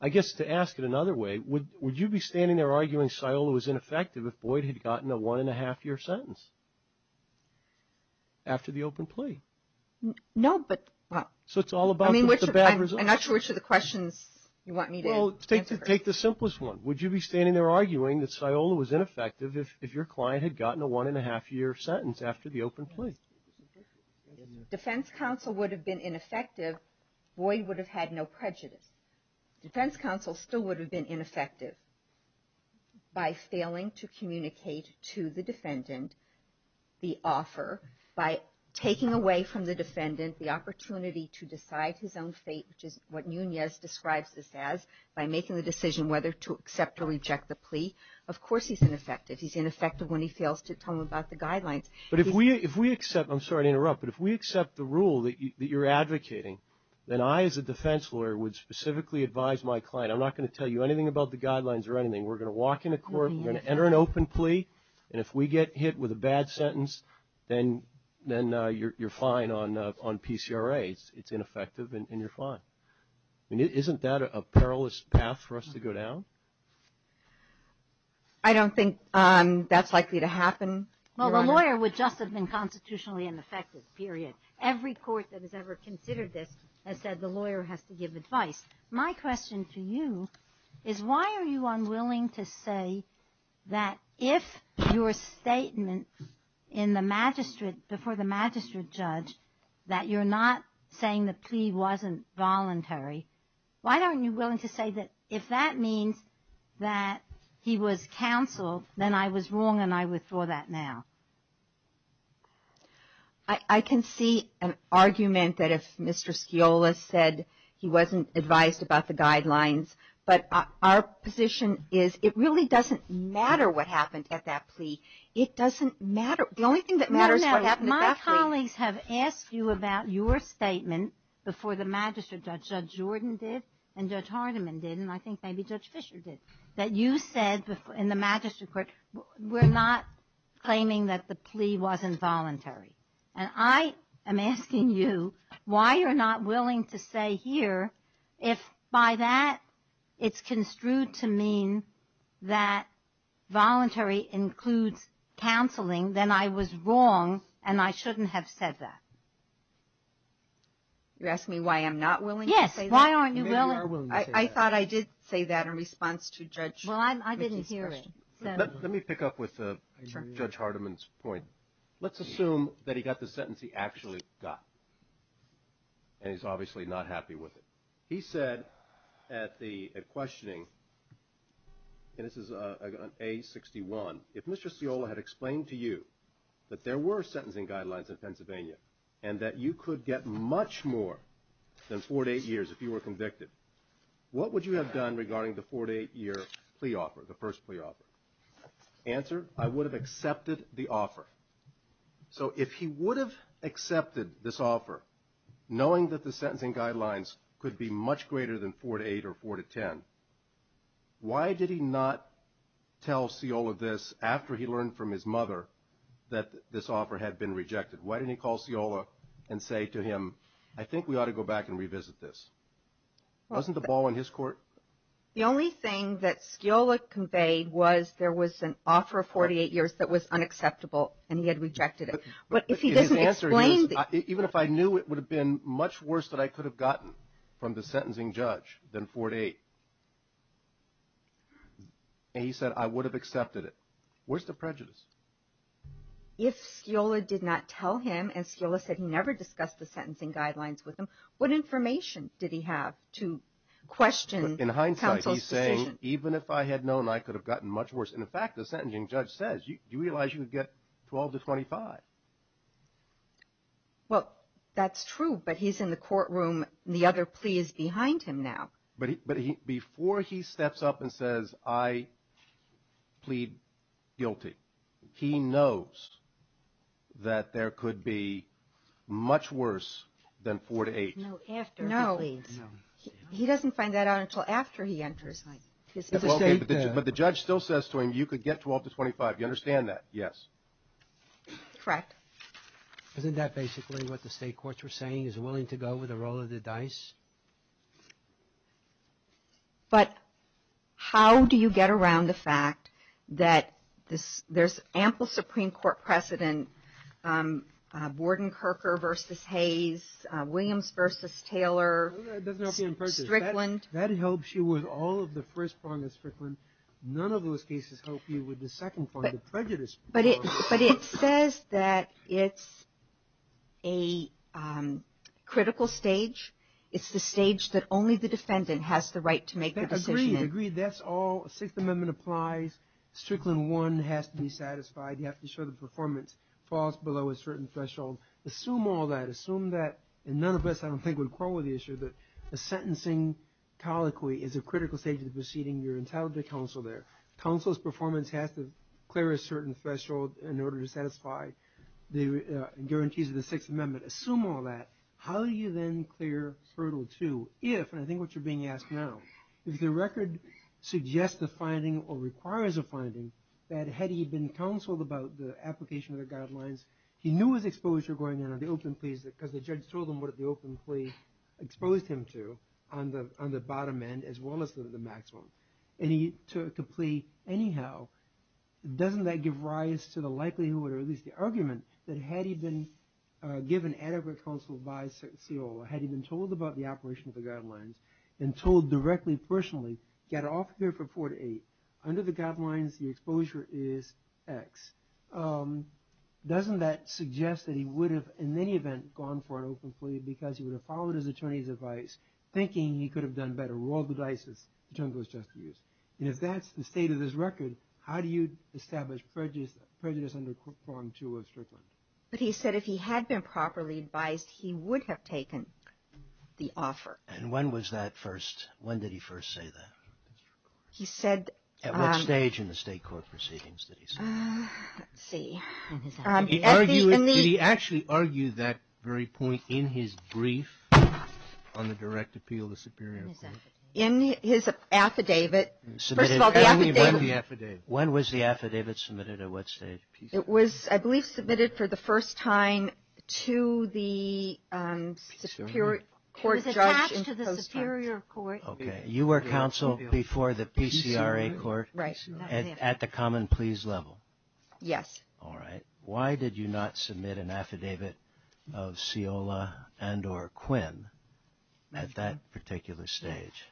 I guess to ask it another way, would you be standing there arguing Sciola was ineffective if Boyd had gotten a one-and-a-half-year sentence after the open plea? No, but, well. So it's all about the bad results. I'm not sure which of the questions you want me to answer first. Well, take the simplest one. Would you be standing there arguing that Sciola was ineffective if your client had gotten a one-and-a-half-year sentence after the open plea? Defense counsel would have been ineffective. Boyd would have had no prejudice. Defense counsel still would have been ineffective by failing to communicate to the defendant the offer, by taking away from the defendant the opportunity to decide his own fate, which is what Nunez describes this as, by making the decision whether to accept or reject the plea. Of course he's ineffective. He's ineffective when he fails to tell him about the guidelines. But if we accept the rule that you're advocating, then I as a defense lawyer would specifically advise my client, I'm not going to tell you anything about the guidelines or anything. We're going to walk into court, we're going to enter an open plea, and if we get hit with a bad sentence, then you're fine on PCRA. It's ineffective and you're fine. Isn't that a perilous path for us to go down? I don't think that's likely to happen, Your Honor. Well, the lawyer would just have been constitutionally ineffective, period. Every court that has ever considered this has said the lawyer has to give advice. My question to you is why are you unwilling to say that if your statement in the magistrate, before the magistrate judge, that you're not saying the plea wasn't voluntary, why aren't you willing to say that if that means that he was counseled, then I was wrong and I withdraw that now? I can see an argument that if Mr. Sciola said he wasn't advised about the guidelines, but our position is it really doesn't matter what happened at that plea. It doesn't matter. The only thing that matters is what happened at that plea. No, no. My colleagues have asked you about your statement before the magistrate judge. Judge Jordan did and Judge Hardiman did, and I think maybe Judge Fisher did, that you said in the magistrate court we're not claiming that the plea wasn't voluntary. And I am asking you why you're not willing to say here if by that it's construed to mean that voluntary includes counseling, then I was wrong and I shouldn't have said that. You're asking me why I'm not willing to say that? Yes. Why aren't you willing? I thought I did say that in response to Judge Fisher's question. Well, I didn't hear it. Let me pick up with Judge Hardiman's point. Let's assume that he got the sentence he actually got, and he's obviously not happy with it. He said at questioning, and this is on A61, if Mr. Sciola had explained to you that there were sentencing guidelines in Pennsylvania and that you could get much more than four to eight years if you were convicted, what would you have done regarding the four to eight year plea offer, the first plea offer? Answer, I would have accepted the offer. So if he would have accepted this offer, knowing that the sentencing guidelines could be much greater than four to eight or four to ten, why did he not tell Sciola this after he learned from his mother that this offer had been rejected? Why didn't he call Sciola and say to him, I think we ought to go back and revisit this? Wasn't the ball in his court? The only thing that Sciola conveyed was there was an offer of 48 years that was unacceptable, and he had rejected it. But if he doesn't explain it. Even if I knew it would have been much worse than I could have gotten from the sentencing judge than four to eight, If Sciola did not tell him, and Sciola said he never discussed the sentencing guidelines with him, what information did he have to question counsel's decision? In hindsight, he's saying, even if I had known, I could have gotten much worse. In fact, the sentencing judge says, do you realize you would get 12 to 25? Well, that's true, but he's in the courtroom and the other plea is behind him now. But before he steps up and says, I plead guilty, he knows that there could be much worse than four to eight. No, after he pleads. He doesn't find that out until after he enters. But the judge still says to him, you could get 12 to 25. You understand that? Yes. Correct. Isn't that basically what the state courts were saying, is willing to go with the roll of the dice? But how do you get around the fact that there's ample Supreme Court precedent, Borden-Kircher versus Hayes, Williams versus Taylor, Strickland. That helps you with all of the first prong of Strickland. None of those cases help you with the second prong, the prejudice prong. But it says that it's a critical stage. It's the stage that only the defendant has the right to make the decision. Agreed. That's all the Sixth Amendment applies. Strickland one has to be satisfied. You have to show the performance falls below a certain threshold. Assume all that. Assume that. And none of us, I don't think, would quarrel with the issue that a sentencing colloquy is a critical stage of the proceeding. You're entitled to counsel there. Counsel's performance has to clear a certain threshold in order to satisfy the guarantees of the Sixth Amendment. Assume all that. How do you then clear hurdle two if, and I think what you're being asked now, if the record suggests the finding or requires a finding that had he been counseled about the application of the guidelines, he knew his exposure going in on the open plea because the judge told him what the open plea exposed him to on the bottom end, as well as the maximum. And he took a plea anyhow. Doesn't that give rise to the likelihood, or at least the argument, that had he been given adequate counsel by COO or had he been told about the operation of the guidelines and told directly, personally, get off here for four to eight. Under the guidelines, the exposure is X. Doesn't that suggest that he would have, in any event, gone for an open plea because he would have followed his attorney's advice, thinking he could have done better, rolled the dice, as the term goes to use? And if that's the state of this record, how do you establish prejudice under form two of Strickland? But he said if he had been properly advised, he would have taken the offer. And when was that first, when did he first say that? He said... At what stage in the state court proceedings did he say that? Let's see. Did he actually argue that very point in his brief on the direct appeal to Superior Court? In his affidavit. First of all, the affidavit. When was the affidavit submitted, at what stage? It was, I believe, submitted for the first time to the Superior Court judge in post-match. He was attached to the Superior Court. Okay. You were counsel before the PCRA court? Right. At the common pleas level? Yes. All right. Why did you not submit an affidavit of Sciola and or Quinn at that particular stage?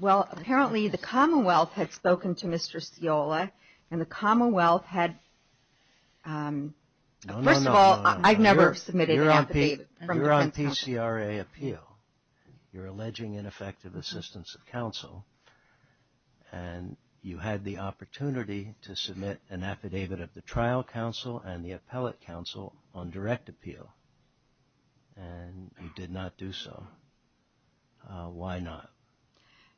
Well, apparently the Commonwealth had spoken to Mr. Sciola, and the Commonwealth had... No, no, no. First of all, I've never submitted an affidavit. You're on PCRA appeal. You're alleging ineffective assistance of counsel, and you had the opportunity to submit an affidavit of the trial counsel and the appellate counsel on direct appeal, and you did not do so. Why not?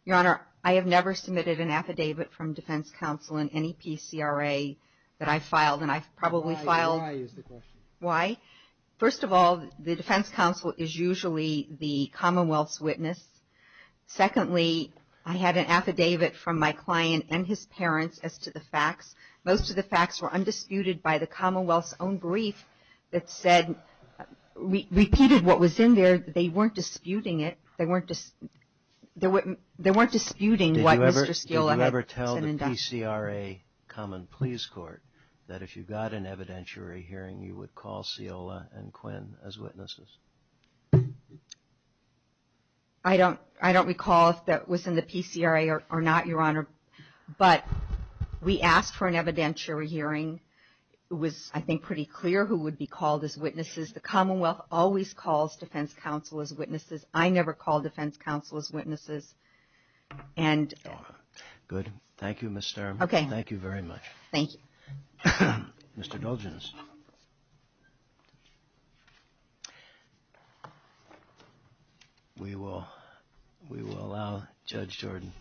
Your Honor, I have never submitted an affidavit from defense counsel in any PCRA that I've filed, and I've probably filed... Why? Why is the question? Why? First of all, the defense counsel is usually the Commonwealth's witness. Secondly, I had an affidavit from my client and his parents as to the facts. Most of the facts were undisputed by the Commonwealth's own brief that said, repeated what was in there. They weren't disputing it. They weren't disputing why Mr. Sciola... common pleas court, that if you got an evidentiary hearing, you would call Sciola and Quinn as witnesses. I don't recall if that was in the PCRA or not, Your Honor, but we asked for an evidentiary hearing. It was, I think, pretty clear who would be called as witnesses. The Commonwealth always calls defense counsel as witnesses. I never call defense counsel as witnesses, and... Good. Thank you, Ms. Sturman. Okay. Thank you very much. Thank you. Mr. Doldrins. We will allow Judge Jordan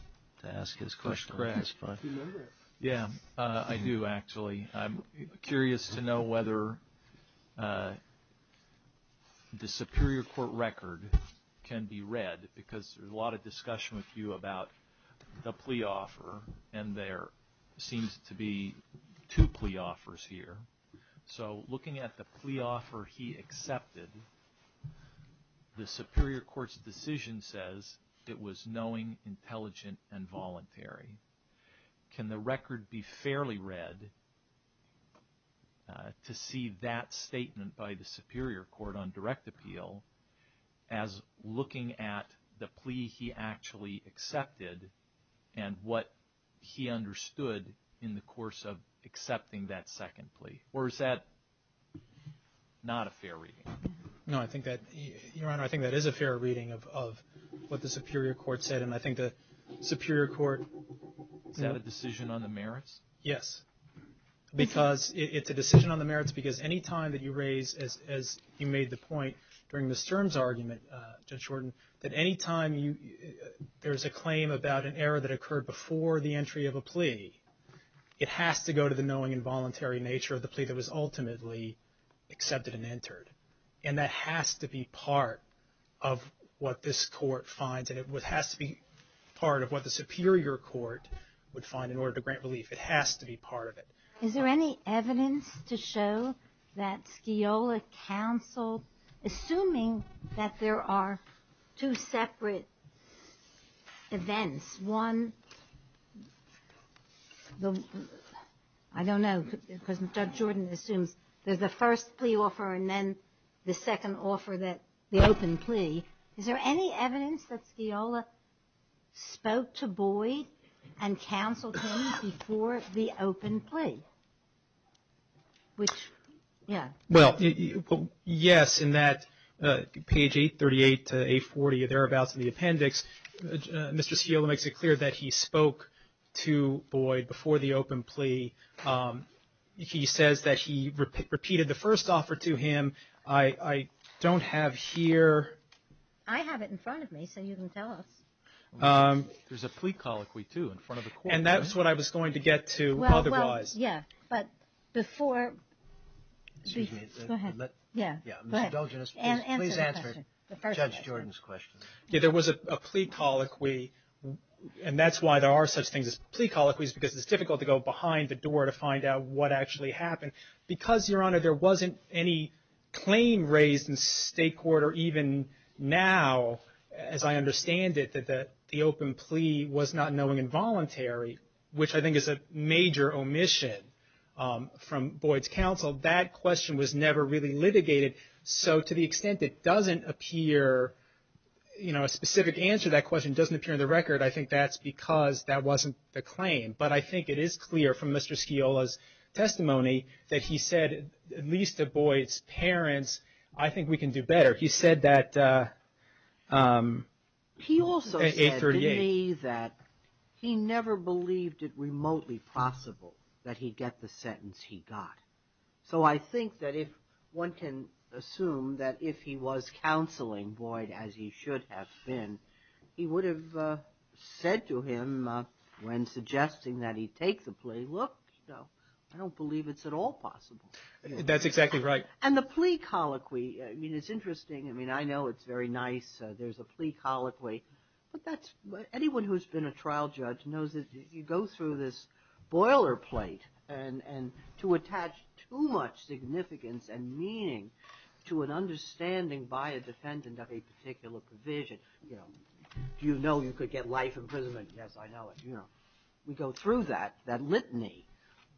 to ask his question. Do you remember it? Yeah, I do, actually. I'm curious to know whether the Superior Court record can be read, because there's a lot of discussion with you about the plea offer, and there seems to be two plea offers here. So, looking at the plea offer he accepted, the Superior Court's decision says it was knowing, intelligent, and voluntary. Can the record be fairly read to see that statement by the Superior Court on direct appeal as looking at the plea he actually accepted and what he understood in the course of accepting that second plea? Or is that not a fair reading? No, Your Honor, I think that is a fair reading of what the Superior Court said, and I think the Superior Court... Is that a decision on the merits? Yes, because it's a decision on the merits because any time that you raise, as you made the point during Ms. Sturm's argument, Judge Jordan, that any time there's a claim about an error that occurred before the entry of a plea, it has to go to the knowing and voluntary nature of the plea that was ultimately accepted and entered. And that has to be part of what this Court finds, and it has to be part of what the Superior Court would find in order to grant relief. It has to be part of it. Is there any evidence to show that Skiola counsel, assuming that there are two separate events, one, I don't know, because Judge Jordan assumes there's a first plea offer and then the second offer, the open plea, is there any evidence that Skiola spoke to Boyd and counseled him before the open plea? Which, yeah. Well, yes, in that page 838 to 840 thereabouts in the appendix, Mr. Skiola makes it clear that he spoke to Boyd before the open plea. He says that he repeated the first offer to him. I don't have here. I have it in front of me so you can tell us. There's a plea colloquy, too, in front of the Court. And that's what I was going to get to otherwise. Well, yeah, but before. Excuse me. Go ahead. Yeah, go ahead. Mr. Delginus, please answer Judge Jordan's question. Yeah, there was a plea colloquy, and that's why there are such things as plea colloquies, because it's difficult to go behind the door to find out what actually happened. Because, Your Honor, there wasn't any claim raised in state court or even now, as I understand it, that the open plea was not knowing involuntary, which I think is a major omission from Boyd's counsel, that question was never really litigated. So to the extent it doesn't appear, you know, a specific answer to that question doesn't appear in the record, I think that's because that wasn't the claim. But I think it is clear from Mr. Sciola's testimony that he said, at least to Boyd's parents, I think we can do better. He said that at 838. He also said to me that he never believed it remotely possible that he'd get the sentence he got. So I think that if one can assume that if he was counseling Boyd, as he should have been, he would have said to him when suggesting that he take the plea, look, I don't believe it's at all possible. That's exactly right. And the plea colloquy, I mean, it's interesting. I mean, I know it's very nice. There's a plea colloquy. But anyone who's been a trial judge knows that you go through this boilerplate and to attach too much significance and meaning to an understanding by a defendant of a particular provision, you know, do you know you could get life imprisonment? Yes, I know it. You know, we go through that, that litany.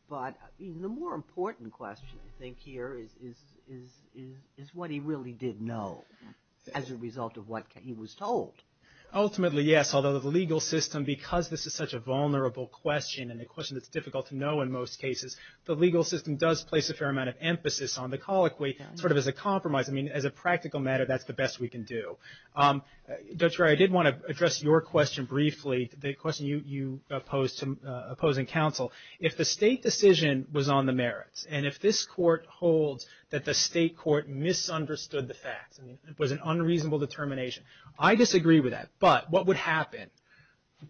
But the more important question, I think, here is what he really did know as a result of what he was told. Ultimately, yes, although the legal system, because this is such a vulnerable question and a question that's difficult to know in most cases, the legal system does place a fair amount of emphasis on the colloquy sort of as a compromise. I mean, as a practical matter, that's the best we can do. Judge Breyer, I did want to address your question briefly, the question you posed to opposing counsel. If the state decision was on the merits, and if this court holds that the state court misunderstood the facts, and it was an unreasonable determination, I disagree with that. But what would happen?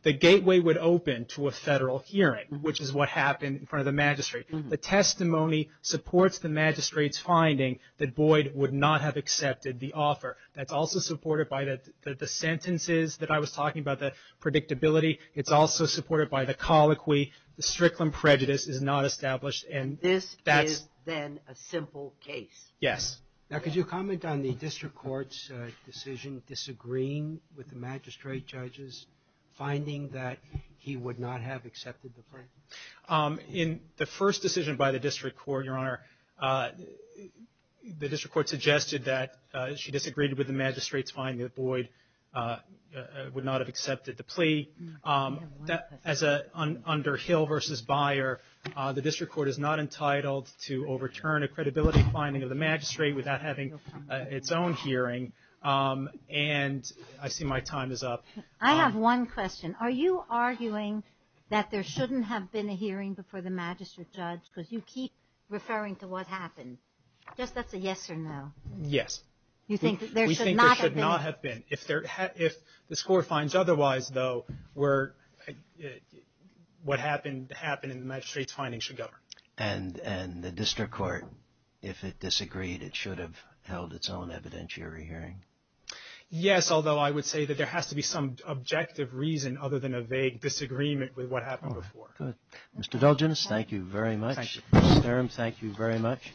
The gateway would open to a federal hearing, which is what happened in front of the magistrate. The testimony supports the magistrate's finding that Boyd would not have accepted the offer. That's also supported by the sentences that I was talking about, the predictability. It's also supported by the colloquy. The Strickland prejudice is not established. And this is then a simple case. Yes. Now, could you comment on the district court's decision disagreeing with the magistrate judges, finding that he would not have accepted the claim? In the first decision by the district court, Your Honor, the district court suggested that she disagreed with the magistrate's finding that Boyd would not have accepted the plea. As under Hill v. Byer, the district court is not entitled to overturn a credibility finding of the magistrate without having its own hearing. And I see my time is up. I have one question. Are you arguing that there shouldn't have been a hearing before the magistrate judge, because you keep referring to what happened, just as a yes or no? Yes. You think there should not have been? We think there should not have been. If the score finds otherwise, though, what happened in the magistrate's finding should govern. And the district court, if it disagreed, it should have held its own evidentiary hearing? Yes, although I would say that there has to be some objective reason other than a vague disagreement with what happened before. Good. Mr. Delginis, thank you very much. Thank you. Mr. Sturm, thank you very much.